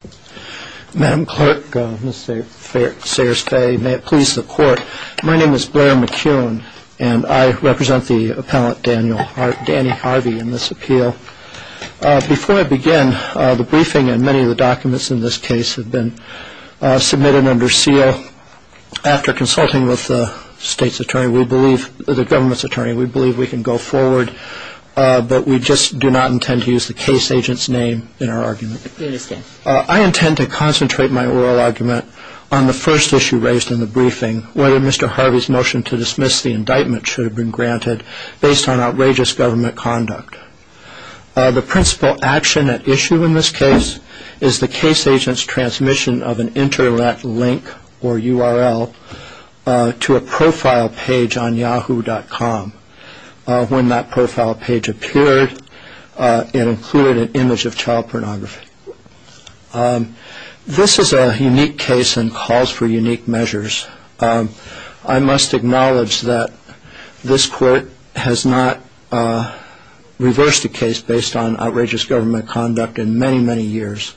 Before I begin, the briefing and many of the documents in this case have been submitted under seal. After consulting with the government's attorney, we believe we can go forward, but we just do not intend to use the case agent's name in our argument. I intend to concentrate my oral argument on the first issue raised in the briefing, whether Mr. Harvey's motion to dismiss the indictment should have been granted based on outrageous government conduct. The principal action at issue in this case is the case agent's transmission of an internet link or URL to a profile page on yahoo.com. When that profile page appeared, it included an image of child pornography. This is a unique case and calls for unique measures. I must acknowledge that this court has not reversed a case based on outrageous government conduct in many, many years,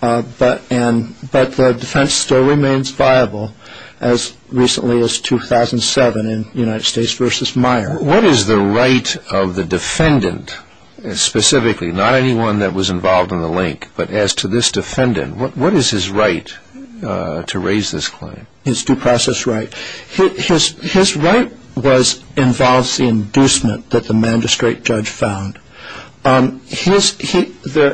but the defense still remains viable as recently as 2007 in United States v. Meyer. What is the right of the defendant specifically, not anyone that was involved in the link, but as to this defendant, what is his right to raise this claim? His due process right. His right involves the inducement that the magistrate judge found. There's a page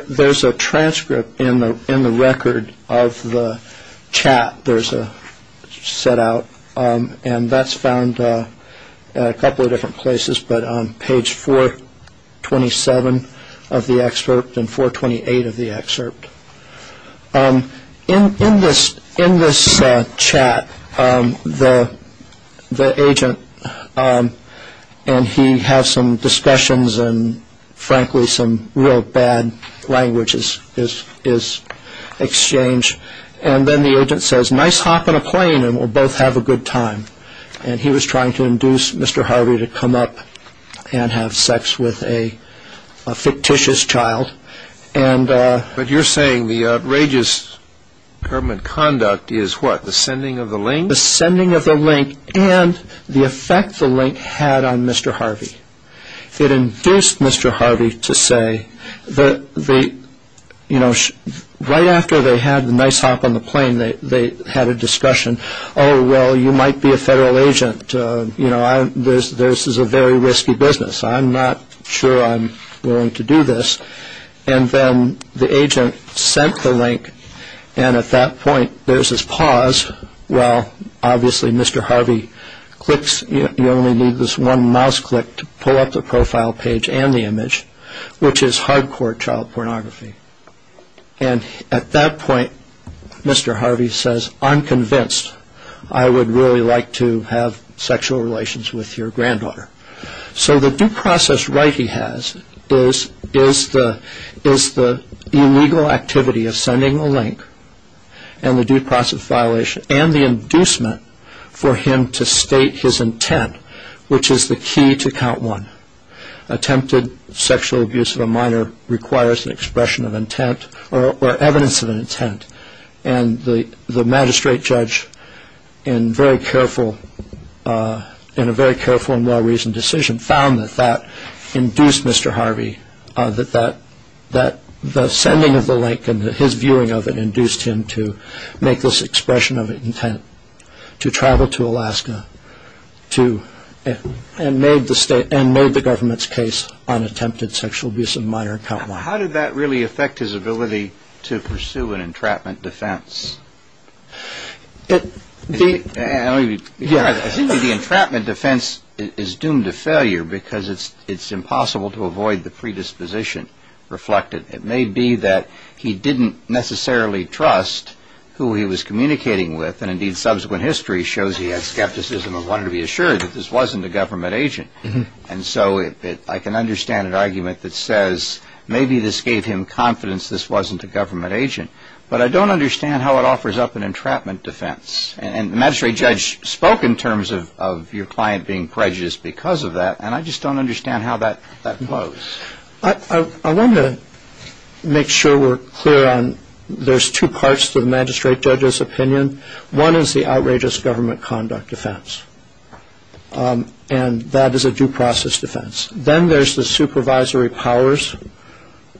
427 of the excerpt and 428 of the excerpt. In this chat, the agent and he have some discussions and frankly some real bad language is exchanged. And then the agent says, nice hop in a plane and we'll both have a good time. And he was trying to induce Mr. Harvey to come up and have sex with a fictitious child. But you're saying the outrageous government conduct is what, the sending of the link? The sending of the link and the effect the link had on Mr. Harvey. It induced Mr. Harvey to say that the, you know, right after they had the nice hop on the plane, they had a discussion. Oh, well, you might be a federal agent. You know, this is a very risky business. I'm not sure I'm willing to do this. And then the agent sent the link. And at that point, there's this pause. Well, obviously, Mr. Harvey clicks. You only need this one mouse click to pull up the profile page and the image, which is hardcore child pornography. And at that point, Mr. Harvey says, I'm convinced I would really like to have sexual relations with your granddaughter. So the due process right he has is the illegal activity of sending a link and the due process violation and the inducement for him to T to count one. Attempted sexual abuse of a minor requires an expression of intent or evidence of an intent. And the magistrate judge, in a very careful and well-reasoned decision, found that that induced Mr. Harvey, that the sending of an induced him to make this expression of intent to travel to Alaska to and made the state and made the government's case on attempted sexual abuse of a minor and count one. How did that really affect his ability to pursue an entrapment defense? It may be the entrapment defense is doomed to failure because it's it's impossible to avoid the predisposition reflected. It may be that he didn't necessarily trust who he was communicating with. And indeed, subsequent history shows he had skepticism and wanted to be assured that this wasn't a government agent. And so I can understand an argument that says maybe this gave him confidence this wasn't a government agent. But I don't understand how it offers up an entrapment defense. And the magistrate judge spoke in terms of your client being prejudiced because of that. And I just don't understand how that that flows. I want to make sure we're clear on there's two parts to the magistrate judge's opinion. One is the outrageous government conduct defense. And that is a due process defense. Then there's the supervisory powers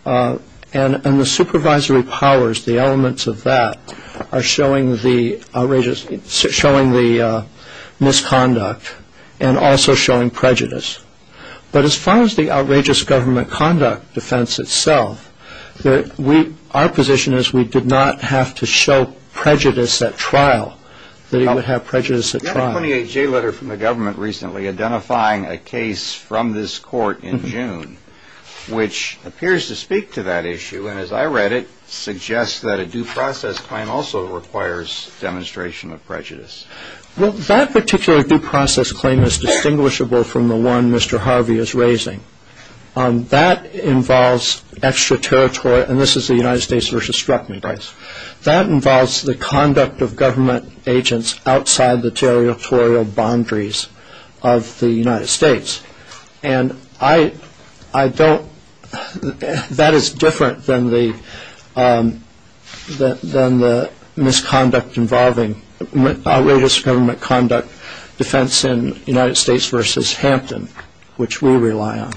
and the supervisory powers. The elements of that are showing the outrageous showing the misconduct and also showing prejudice. But as far as the outrageous government conduct defense itself, that we our position is we did not have to show prejudice at trial. They don't have prejudice. The 28 J letter from the government recently identifying a case from this court in June, which appears to speak to that issue. And as I read it suggests that a due process claim also requires demonstration of prejudice. Well, that particular due process claim is distinguishable from the one Mr. Harvey is raising. That involves extra territory. And this is the United States versus Struckman. That involves the conduct of government agents outside the territorial boundaries of the I don't that is different than the than the misconduct involving outrageous government conduct defense in United States versus Hampton, which we rely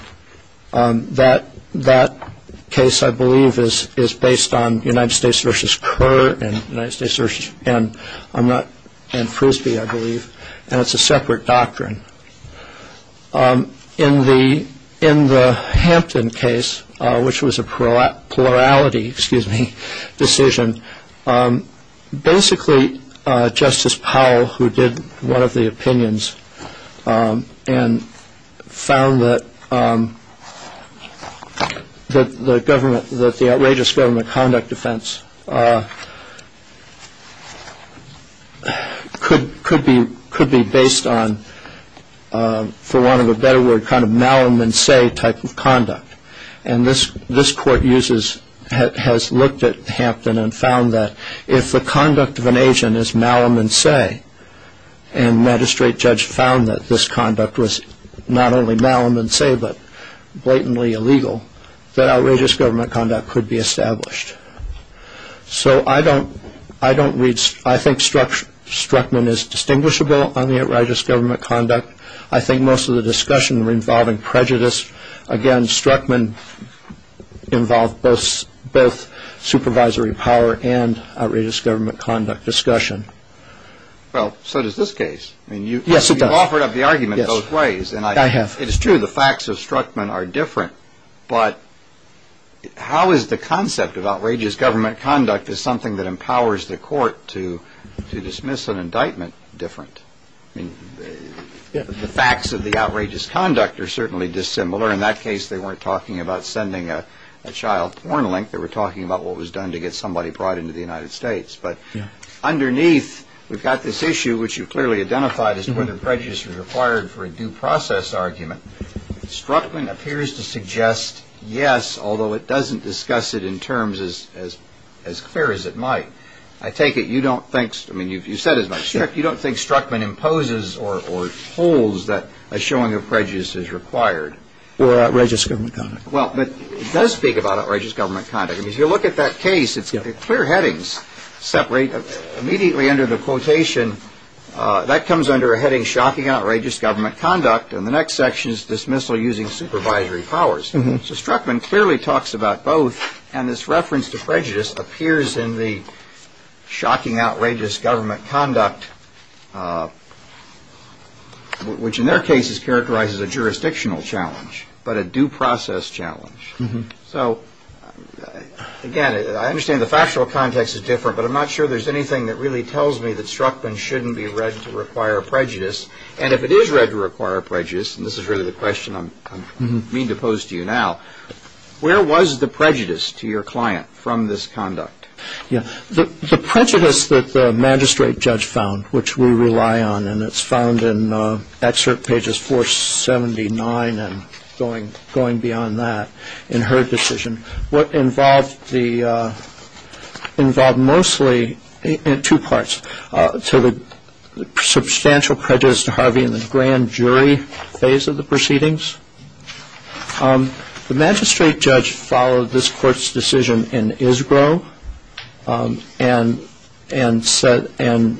on that. That case, I believe, is is based on United States versus Kerr and United States and I'm not and Frisbee, I believe. And it's a separate doctrine in the in the Hampton case, which was a pro plurality, excuse me, decision. Basically, Justice Powell, who did one of the opinions and found that the government, that the outrageous government conduct defense could be based on, for want of a better word, kind of malum and say type of conduct. And this this court uses has looked at Hampton and found that if the conduct of an agent is malum and say, and magistrate judge found that this conduct was not only malum and say, but blatantly illegal, that outrageous government conduct could be established. So I don't I don't read. I think Struckman is distinguishable on the outrageous government conduct. I think most of the discussion were involving prejudice. Again, Struckman involved both both supervisory power and outrageous government conduct discussion. Well, so does this case. I mean, you offered up the argument both ways. And I have it is true. The facts of Struckman are different. But how is the concept of outrageous government conduct is something that empowers the court to to dismiss an indictment different? I mean, the facts of the outrageous conduct are certainly dissimilar. In that case, they weren't talking about sending a child porn link. They were talking about what was done to get somebody brought into the United States. But underneath, we've got this issue, which you clearly identified as whether prejudice is required for a due process argument. Struckman appears to suggest, yes, although it doesn't discuss it in terms as as as clear as it might. I take it you don't think I mean, you've you said as much. You don't think Struckman imposes or holds that a showing of prejudice is required or outrageous government conduct. Well, it does speak about outrageous government conduct. If you look at that case, it's got clear headings separate immediately under the quotation that comes under a heading shocking, outrageous government conduct. And the next section is dismissal using supervisory powers. So Struckman clearly talks about both. And this reference to prejudice appears in the shocking, outrageous government conduct, which in their cases characterizes a jurisdictional challenge, but a due process challenge. So, again, I understand the factual context is different, but I'm not sure there's anything that really tells me that Struckman shouldn't be read to require prejudice. And if it is read to require prejudice, and this is really the question I'm mean to pose to you now, where was the prejudice to your client from this conduct? Yeah, the prejudice that the magistrate judge found, which we rely on, and it's found in excerpt pages 479 and going beyond that in her decision, what involved mostly, in two parts, to the substantial prejudice to Harvey in the grand jury phase of the proceedings. The magistrate judge followed this court's decision in Isgro, and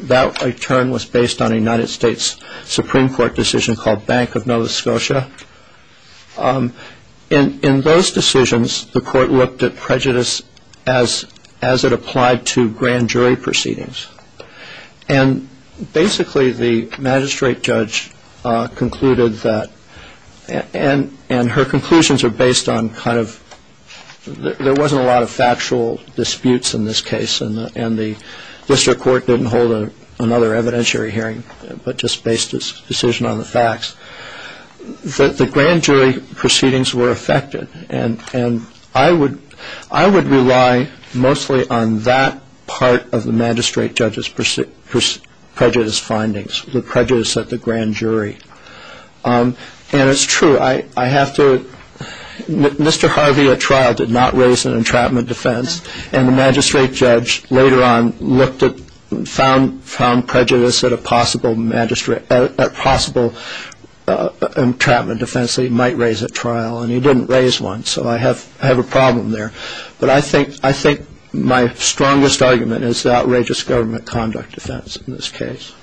that return was based on a United States Supreme Court decision called Bank of Nova Scotia. In those decisions, the court looked at prejudice as it applied to grand jury proceedings. And basically, the magistrate judge concluded that, and her conclusions are based on kind of, there wasn't a lot of factual disputes in this case, and the district court didn't hold another evidentiary hearing, but just based its decision on the facts, that the grand jury proceedings were affected. And I would rely mostly on that part of the magistrate judge's prejudice findings, the prejudice at the grand jury. And it's true, I have to, Mr. Harvey, at trial, did not raise an entrapment defense, and the magistrate judge later on looked at, found prejudice at a possible entrapment defense that he might raise at trial, and he didn't raise one, so I have a problem there. But I think my strongest argument is the outrageous government conduct defense in this case.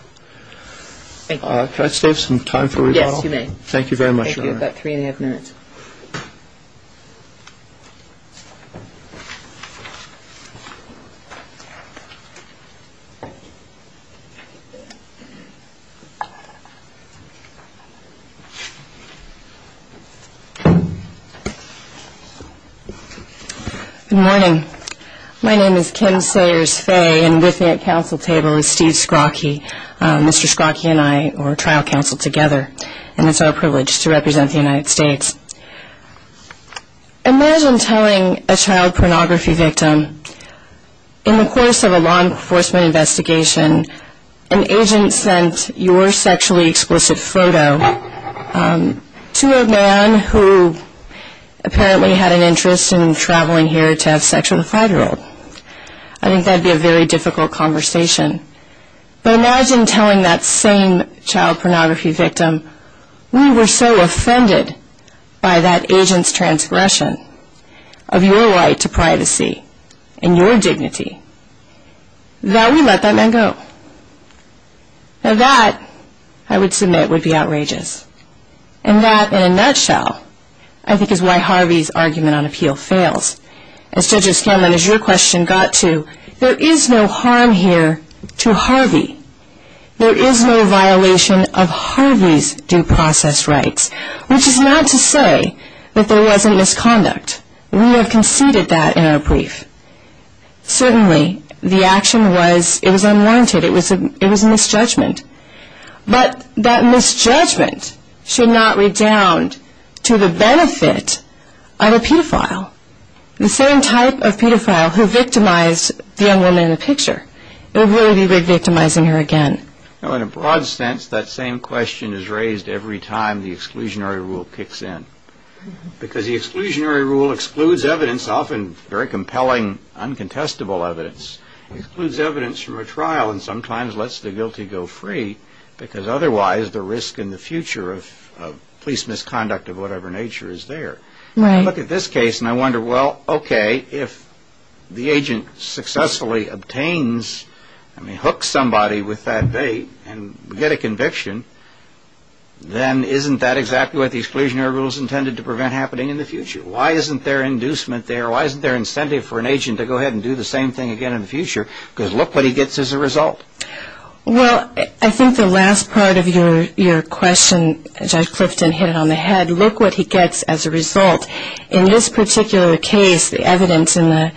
Thank you. Can I save some time for rebuttal? Yes, you may. Thank you very much, Your Honor. You have about three and a half minutes. Good morning. My name is Kim Sayers-Fay, and with me at counsel table is Steve Skrocki. Mr. Skrocki and I were trial counsel together, and it's our privilege to represent the United States. Imagine telling a child pornography victim, in the course of a law enforcement investigation, an agent sent your sexually explicit photo to a man who apparently had an interest in traveling here to have sex with a five-year-old. I think that would be a very difficult conversation. But imagine telling that same child pornography victim, we were so offended by that agent's transgression of your right to privacy and your dignity, that we let that man go. Now that, I would submit, would be outrageous. And that, in a nutshell, I think is why Harvey's argument on appeal fails. As Judge O'Scanlan, as your question got to, there is no harm here to Harvey. There is no violation of Harvey's due process rights, which is not to say that there wasn't misconduct. We have conceded that in our brief. Certainly, the action was unwanted. It was a misjudgment. But that misjudgment should not redound to the benefit of a pedophile, the same type of pedophile who victimized the young woman in the picture. It would really be victimizing her again. In a broad sense, that same question is raised every time the exclusionary rule kicks in. Because the exclusionary rule excludes evidence, often very compelling, uncontestable evidence. It excludes evidence from a trial and sometimes lets the guilty go free, because otherwise the risk in the future of police misconduct of whatever nature is there. I look at this case and I wonder, well, okay, if the agent successfully obtains, I mean, hooks somebody with that date and we get a conviction, then isn't that exactly what the exclusionary rule is intended to prevent happening in the future? Why isn't there inducement there? Why isn't there incentive for an agent to go ahead and do the same thing again in the future? Because look what he gets as a result. Well, I think the last part of your question, Judge Clifton, hit it on the head. Look what he gets as a result. In this particular case, the evidence in the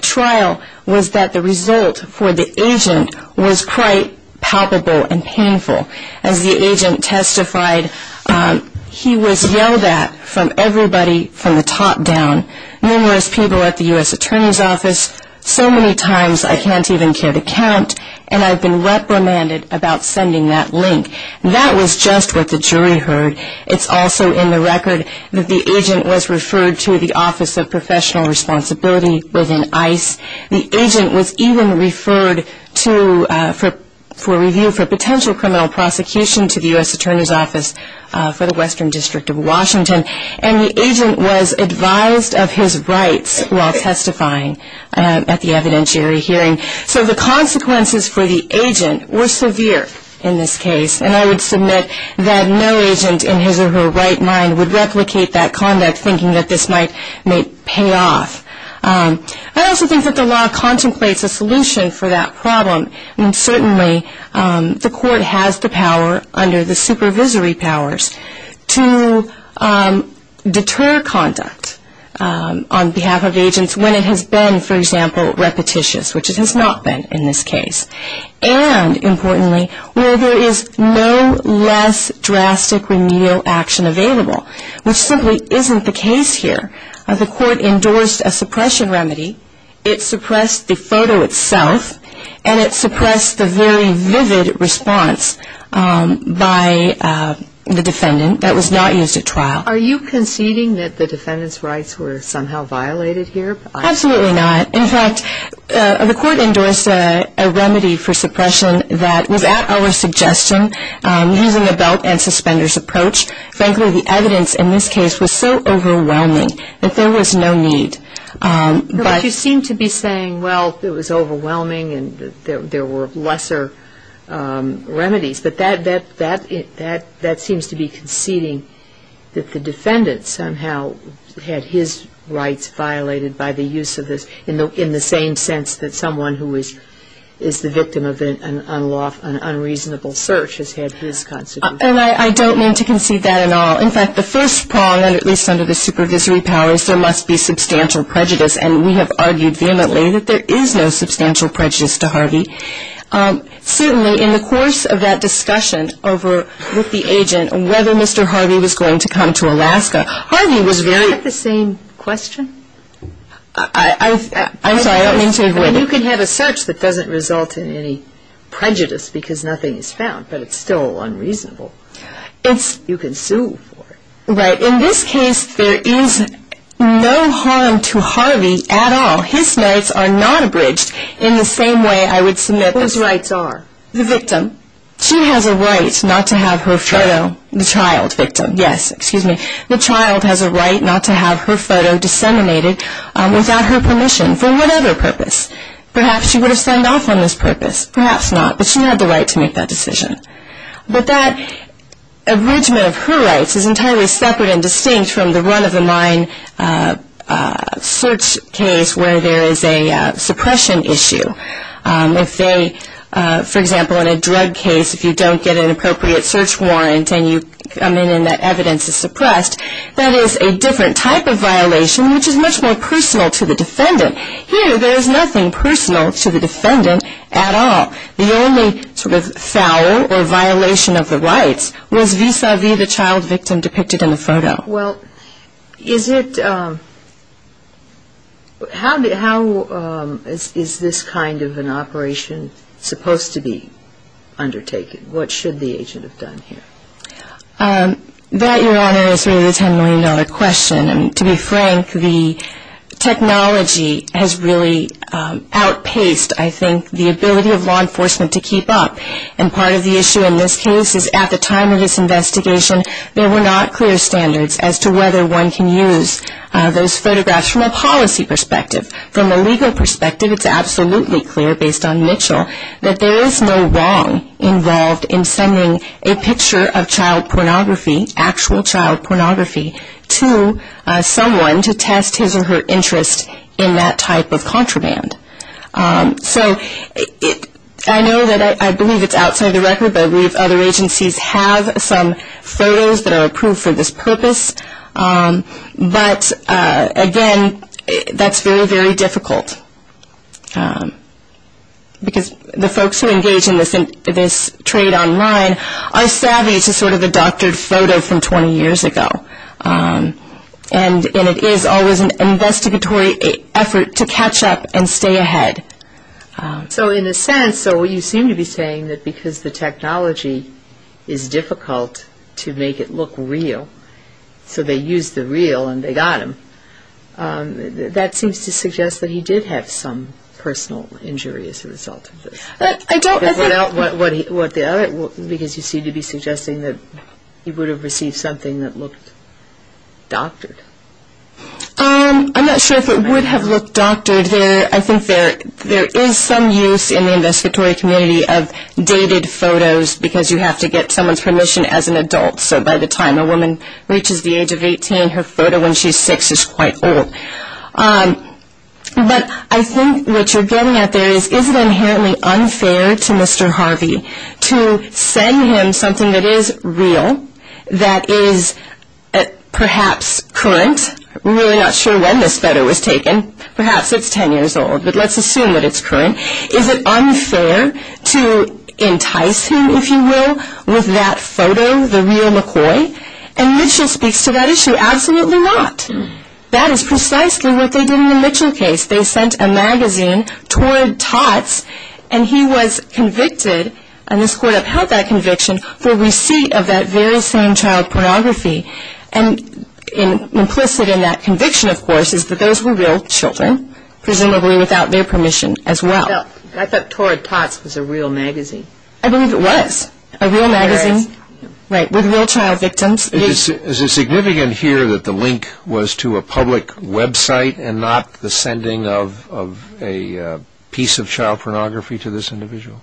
trial was that the result for the agent was quite palpable and painful. As the agent testified, he was yelled at from everybody from the top down. Numerous people at the U.S. Attorney's Office. So many times I can't even care to count, and I've been reprimanded about sending that link. That was just what the jury heard. It's also in the record that the agent was referred to the Office of Professional Responsibility within ICE. The agent was even referred for review for potential criminal prosecution to the U.S. Attorney's Office for the Western District of Washington. And the agent was advised of his rights while testifying at the evidentiary hearing. So the consequences for the agent were severe in this case. And I would submit that no agent in his or her right mind would replicate that conduct thinking that this might pay off. I also think that the law contemplates a solution for that problem. And certainly the court has the power under the supervisory powers to deter conduct on behalf of agents when it has been, for example, repetitious, which it has not been in this case. And importantly, where there is no less drastic remedial action available, which simply isn't the case here. The court endorsed a suppression remedy. It suppressed the photo itself and it suppressed the very vivid response by the defendant that was not used at trial. Are you conceding that the defendant's rights were somehow violated here? Absolutely not. In fact, the court endorsed a remedy for suppression that was at our suggestion using a belt and suspenders approach. Frankly, the evidence in this case was so overwhelming that there was no need. But you seem to be saying, well, it was overwhelming and there were lesser remedies. But that seems to be conceding that the defendant somehow had his rights violated by the use of this, in the same sense that someone who is the victim of an unreasonable search has had his consequences. And I don't mean to concede that at all. Well, in fact, the first prong, and at least under the supervisory powers, there must be substantial prejudice. And we have argued vehemently that there is no substantial prejudice to Harvey. Certainly in the course of that discussion over with the agent, whether Mr. Harvey was going to come to Alaska, Harvey was very- Is that the same question? I'm sorry, I don't mean to- You can have a search that doesn't result in any prejudice because nothing is found, but it's still unreasonable. You can sue for it. Right. In this case, there is no harm to Harvey at all. His rights are not abridged in the same way I would submit those rights are. The victim. She has a right not to have her photo- The child. The child. Victim. Yes, excuse me. The child has a right not to have her photo disseminated without her permission for whatever purpose. Perhaps she would have signed off on this purpose. Perhaps not. But she had the right to make that decision. But that abridgment of her rights is entirely separate and distinct from the run-of-the-mind search case where there is a suppression issue. If they, for example, in a drug case, if you don't get an appropriate search warrant and you come in and that evidence is suppressed, that is a different type of violation which is much more personal to the defendant. Here, there is nothing personal to the defendant at all. The only sort of foul or violation of the rights was vis-à-vis the child victim depicted in the photo. Well, is it, how is this kind of an operation supposed to be undertaken? What should the agent have done here? That, Your Honor, is really a ten million dollar question. And to be frank, the technology has really outpaced, I think, the ability of law enforcement to keep up. And part of the issue in this case is at the time of this investigation, there were not clear standards as to whether one can use those photographs from a policy perspective. From a legal perspective, it's absolutely clear based on Mitchell that there is no wrong involved in sending a picture of child pornography, actual child pornography, to someone to test his or her interest in that type of contraband. So I know that I believe it's outside the record, but I believe other agencies have some photos that are approved for this purpose. But, again, that's very, very difficult. Because the folks who engage in this trade online are savvy to sort of the doctored photo from 20 years ago. And it is always an investigatory effort to catch up and stay ahead. So in a sense, so you seem to be saying that because the technology is difficult to make it look real, so they used the real and they got him, that seems to suggest that he did have some personal injury as a result of this. I don't think... Because you seem to be suggesting that he would have received something that looked doctored. I'm not sure if it would have looked doctored. I think there is some use in the investigatory community of dated photos because you have to get someone's permission as an adult. So by the time a woman reaches the age of 18, her photo when she's six is quite old. But I think what you're getting at there is, is it inherently unfair to Mr. Harvey to send him something that is real, that is perhaps current? We're really not sure when this photo was taken. Perhaps it's 10 years old, but let's assume that it's current. Is it unfair to entice him, if you will, with that photo, the real McCoy? And Mitchell speaks to that issue. Absolutely not. That is precisely what they did in the Mitchell case. They sent a magazine toward Tots and he was convicted, and this court upheld that conviction, for receipt of that very same child pornography. And implicit in that conviction, of course, is that those were real children, presumably without their permission as well. I thought Toward Tots was a real magazine. I believe it was. A real magazine with real child victims. Is it significant here that the link was to a public website and not the sending of a piece of child pornography to this individual?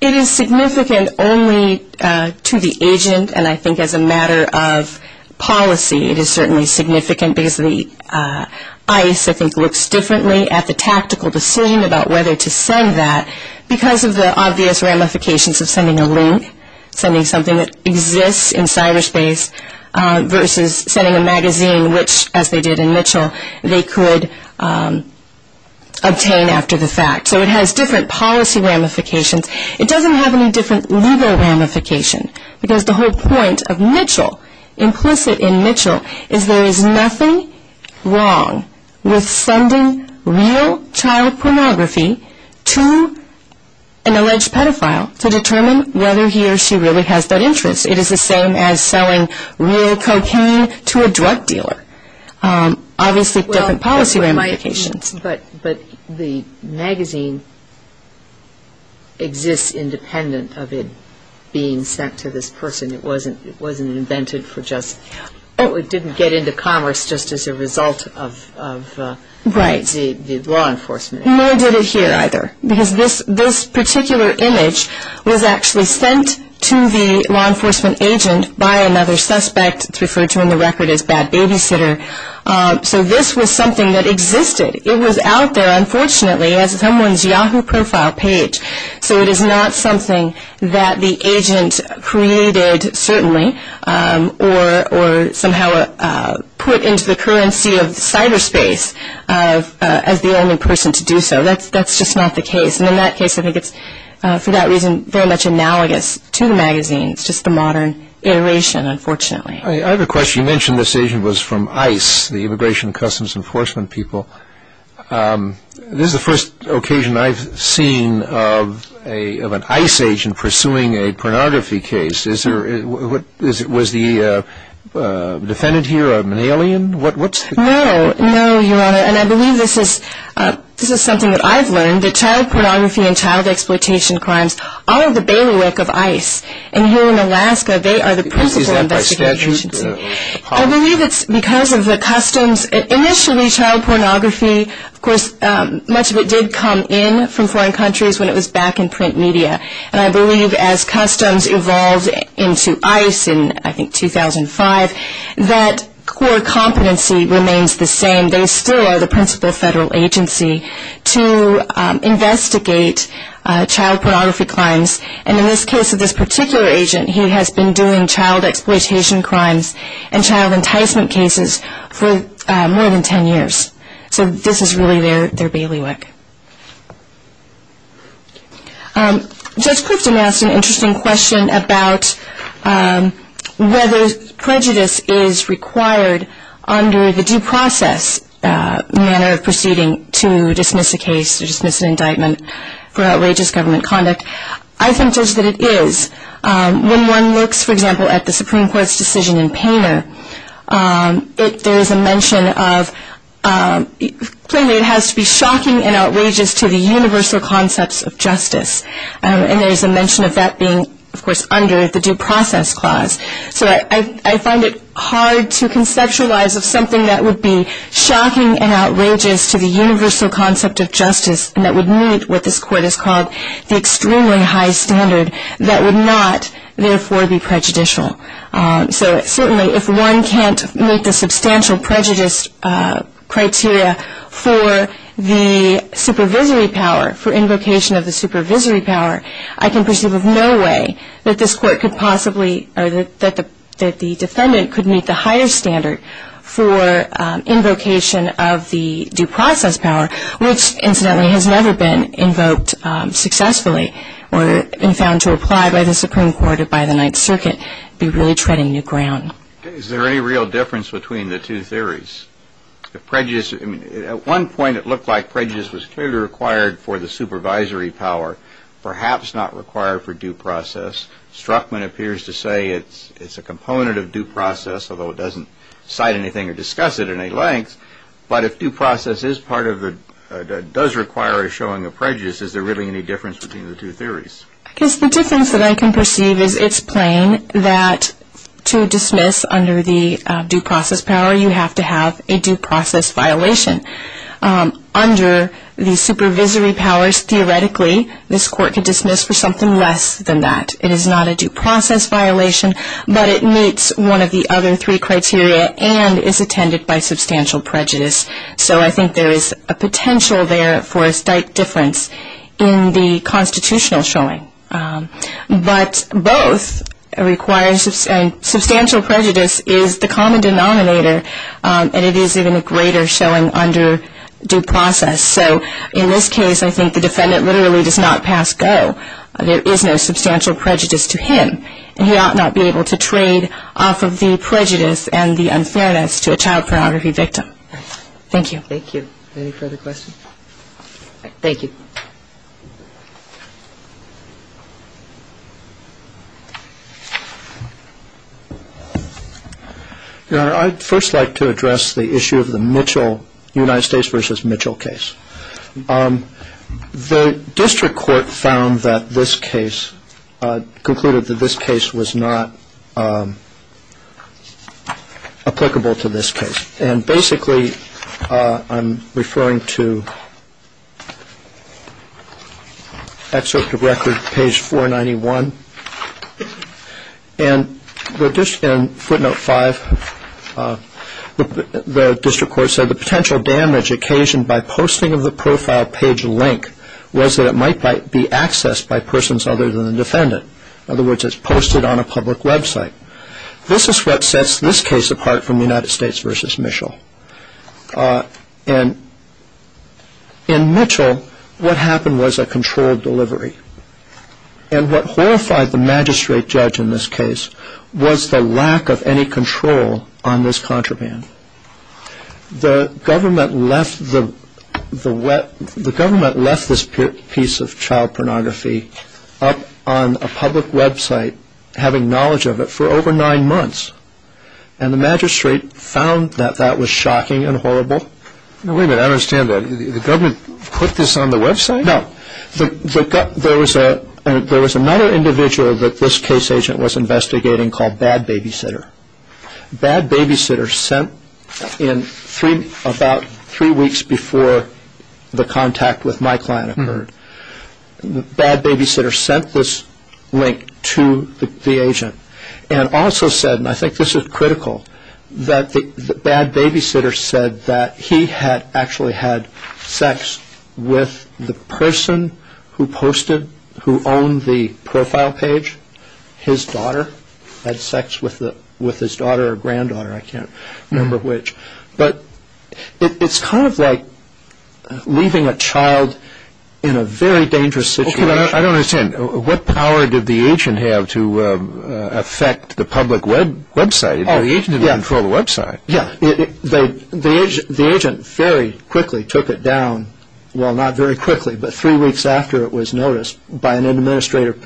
It is significant only to the agent, and I think as a matter of policy, it is certainly significant because the ICE, I think, looks differently at the tactical decision about whether to send that because of the obvious ramifications of sending a link, sending something that exists in cyberspace, versus sending a magazine which, as they did in Mitchell, they could obtain after the fact. So it has different policy ramifications. It doesn't have any different legal ramifications because the whole point of Mitchell, implicit in Mitchell, is there is nothing wrong with sending real child pornography to an alleged pedophile to determine whether he or she really has that interest. It is the same as selling real cocaine to a drug dealer. Obviously, different policy ramifications. But the magazine exists independent of it being sent to this person. It wasn't invented for just, it didn't get into commerce just as a result of the law enforcement agency. Nor did it here, either, because this particular image was actually sent to the law enforcement agent by another suspect. It's referred to in the record as bad babysitter. So this was something that existed. It was out there, unfortunately, as someone's Yahoo profile page. So it is not something that the agent created, certainly, or somehow put into the currency of cyberspace as the only person to do so. That's just not the case. And in that case, I think it's, for that reason, very much analogous to the magazines, just the modern iteration, unfortunately. I have a question. You mentioned this agent was from ICE, the Immigration and Customs Enforcement people. This is the first occasion I've seen of an ICE agent pursuing a pornography case. Was the defendant here an alien? No, no, Your Honor. And I believe this is something that I've learned, that child pornography and child exploitation crimes are the bailiwick of ICE. And here in Alaska, they are the principal investigation agency. Is that by statute? I believe it's because of the customs. Initially, child pornography, of course, much of it did come in from foreign countries when it was back in print media. And I believe as customs evolved into ICE in, I think, 2005, that core competency remains the same. They still are the principal federal agency to investigate child pornography crimes. And in this case of this particular agent, he has been doing child exploitation crimes and child enticement cases for more than ten years. So this is really their bailiwick. Judge Clifton asked an interesting question about whether prejudice is required under the due process manner of proceeding to dismiss a case or dismiss an indictment for outrageous government conduct. I think, Judge, that it is. When one looks, for example, at the Supreme Court's decision in Painter, there is a mention of plainly it has to be shocking and outrageous to the universal concepts of justice. And there is a mention of that being, of course, under the due process clause. So I find it hard to conceptualize of something that would be shocking and outrageous to the universal concept of justice and that would meet what this Court has called the extremely high standard that would not, therefore, be prejudicial. So certainly if one can't meet the substantial prejudice criteria for the supervisory power, for invocation of the supervisory power, I can perceive of no way that this Court could possibly or that the defendant could meet the higher standard for invocation of the due process power, which, incidentally, has never been invoked successfully or been found to apply by the Supreme Court or by the Ninth Circuit, be really treading new ground. Is there any real difference between the two theories? At one point it looked like prejudice was clearly required for the supervisory power, perhaps not required for due process. Struckman appears to say it's a component of due process, although it doesn't cite anything or discuss it in any length. But if due process does require a showing of prejudice, is there really any difference between the two theories? I guess the difference that I can perceive is it's plain that to dismiss under the due process power, you have to have a due process violation. Under the supervisory powers, theoretically, this Court could dismiss for something less than that. It is not a due process violation, but it meets one of the other three criteria and is attended by substantial prejudice. So I think there is a potential there for a slight difference in the constitutional showing. But both require substantial prejudice is the common denominator, and it is even a greater showing under due process. So in this case, I think the defendant literally does not pass go. There is no substantial prejudice to him, and he ought not be able to trade off of the prejudice and the unfairness to a child pornography victim. Thank you. Thank you. Any further questions? Thank you. Your Honor, I'd first like to address the issue of the Mitchell, United States v. Mitchell case. The district court found that this case, concluded that this case was not applicable to this case. And basically, I'm referring to excerpt of record, page 491. And footnote 5, the district court said, the potential damage occasioned by posting of the profile page link was that it might be accessed by persons other than the defendant. In other words, it's posted on a public website. This is what sets this case apart from United States v. Mitchell. And in Mitchell, what happened was a controlled delivery. And what horrified the magistrate judge in this case was the lack of any control on this contraband. The government left this piece of child pornography up on a public website, having knowledge of it, for over nine months. And the magistrate found that that was shocking and horrible. Now, wait a minute. I don't understand that. The government put this on the website? No. There was another individual that this case agent was investigating called Bad Babysitter. Bad Babysitter sent in about three weeks before the contact with my client occurred, Bad Babysitter sent this link to the agent and also said, and I think this is critical, that Bad Babysitter said that he had actually had sex with the person who posted, who owned the profile page, his daughter. Had sex with his daughter or granddaughter, I can't remember which. But it's kind of like leaving a child in a very dangerous situation. I don't understand. What power did the agent have to affect the public website? The agent didn't control the website. Yeah. The agent very quickly took it down, well, not very quickly, but three weeks after it was noticed by an administrator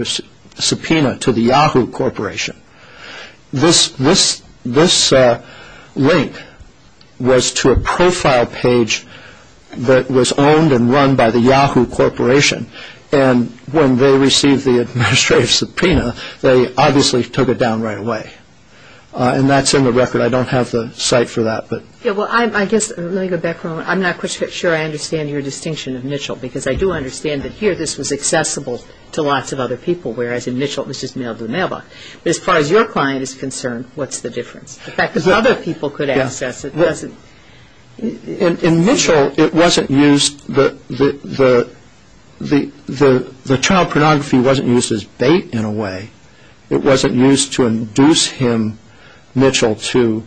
subpoena to the Yahoo Corporation. This link was to a profile page that was owned and run by the Yahoo Corporation, and when they received the administrative subpoena, they obviously took it down right away. And that's in the record. I don't have the site for that. Yeah, well, I guess, let me go back for a moment. I'm not quite sure I understand your distinction of Mitchell, because I do understand that here this was accessible to lots of other people, whereas in Mitchell it was just mailed to the mailbox. But as far as your client is concerned, what's the difference? The fact that other people could access it doesn't... In Mitchell, it wasn't used, the child pornography wasn't used as bait in a way. It wasn't used to induce him, Mitchell, to...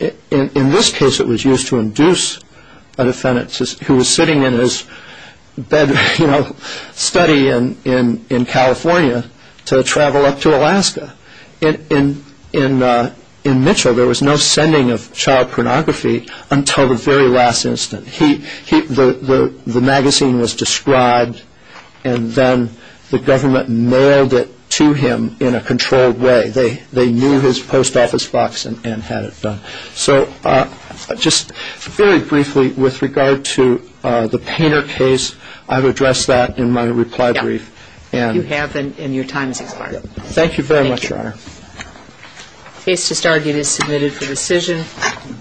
In this case, it was used to induce a defendant who was sitting in his bed, you know, steady in California to travel up to Alaska. In Mitchell, there was no sending of child pornography until the very last instant. The magazine was described, and then the government mailed it to him in a controlled way. They knew his post office box and had it done. So just very briefly with regard to the Painter case, I've addressed that in my reply brief. You have, and your time has expired. Thank you very much, Your Honor. Case to start, it is submitted for decision.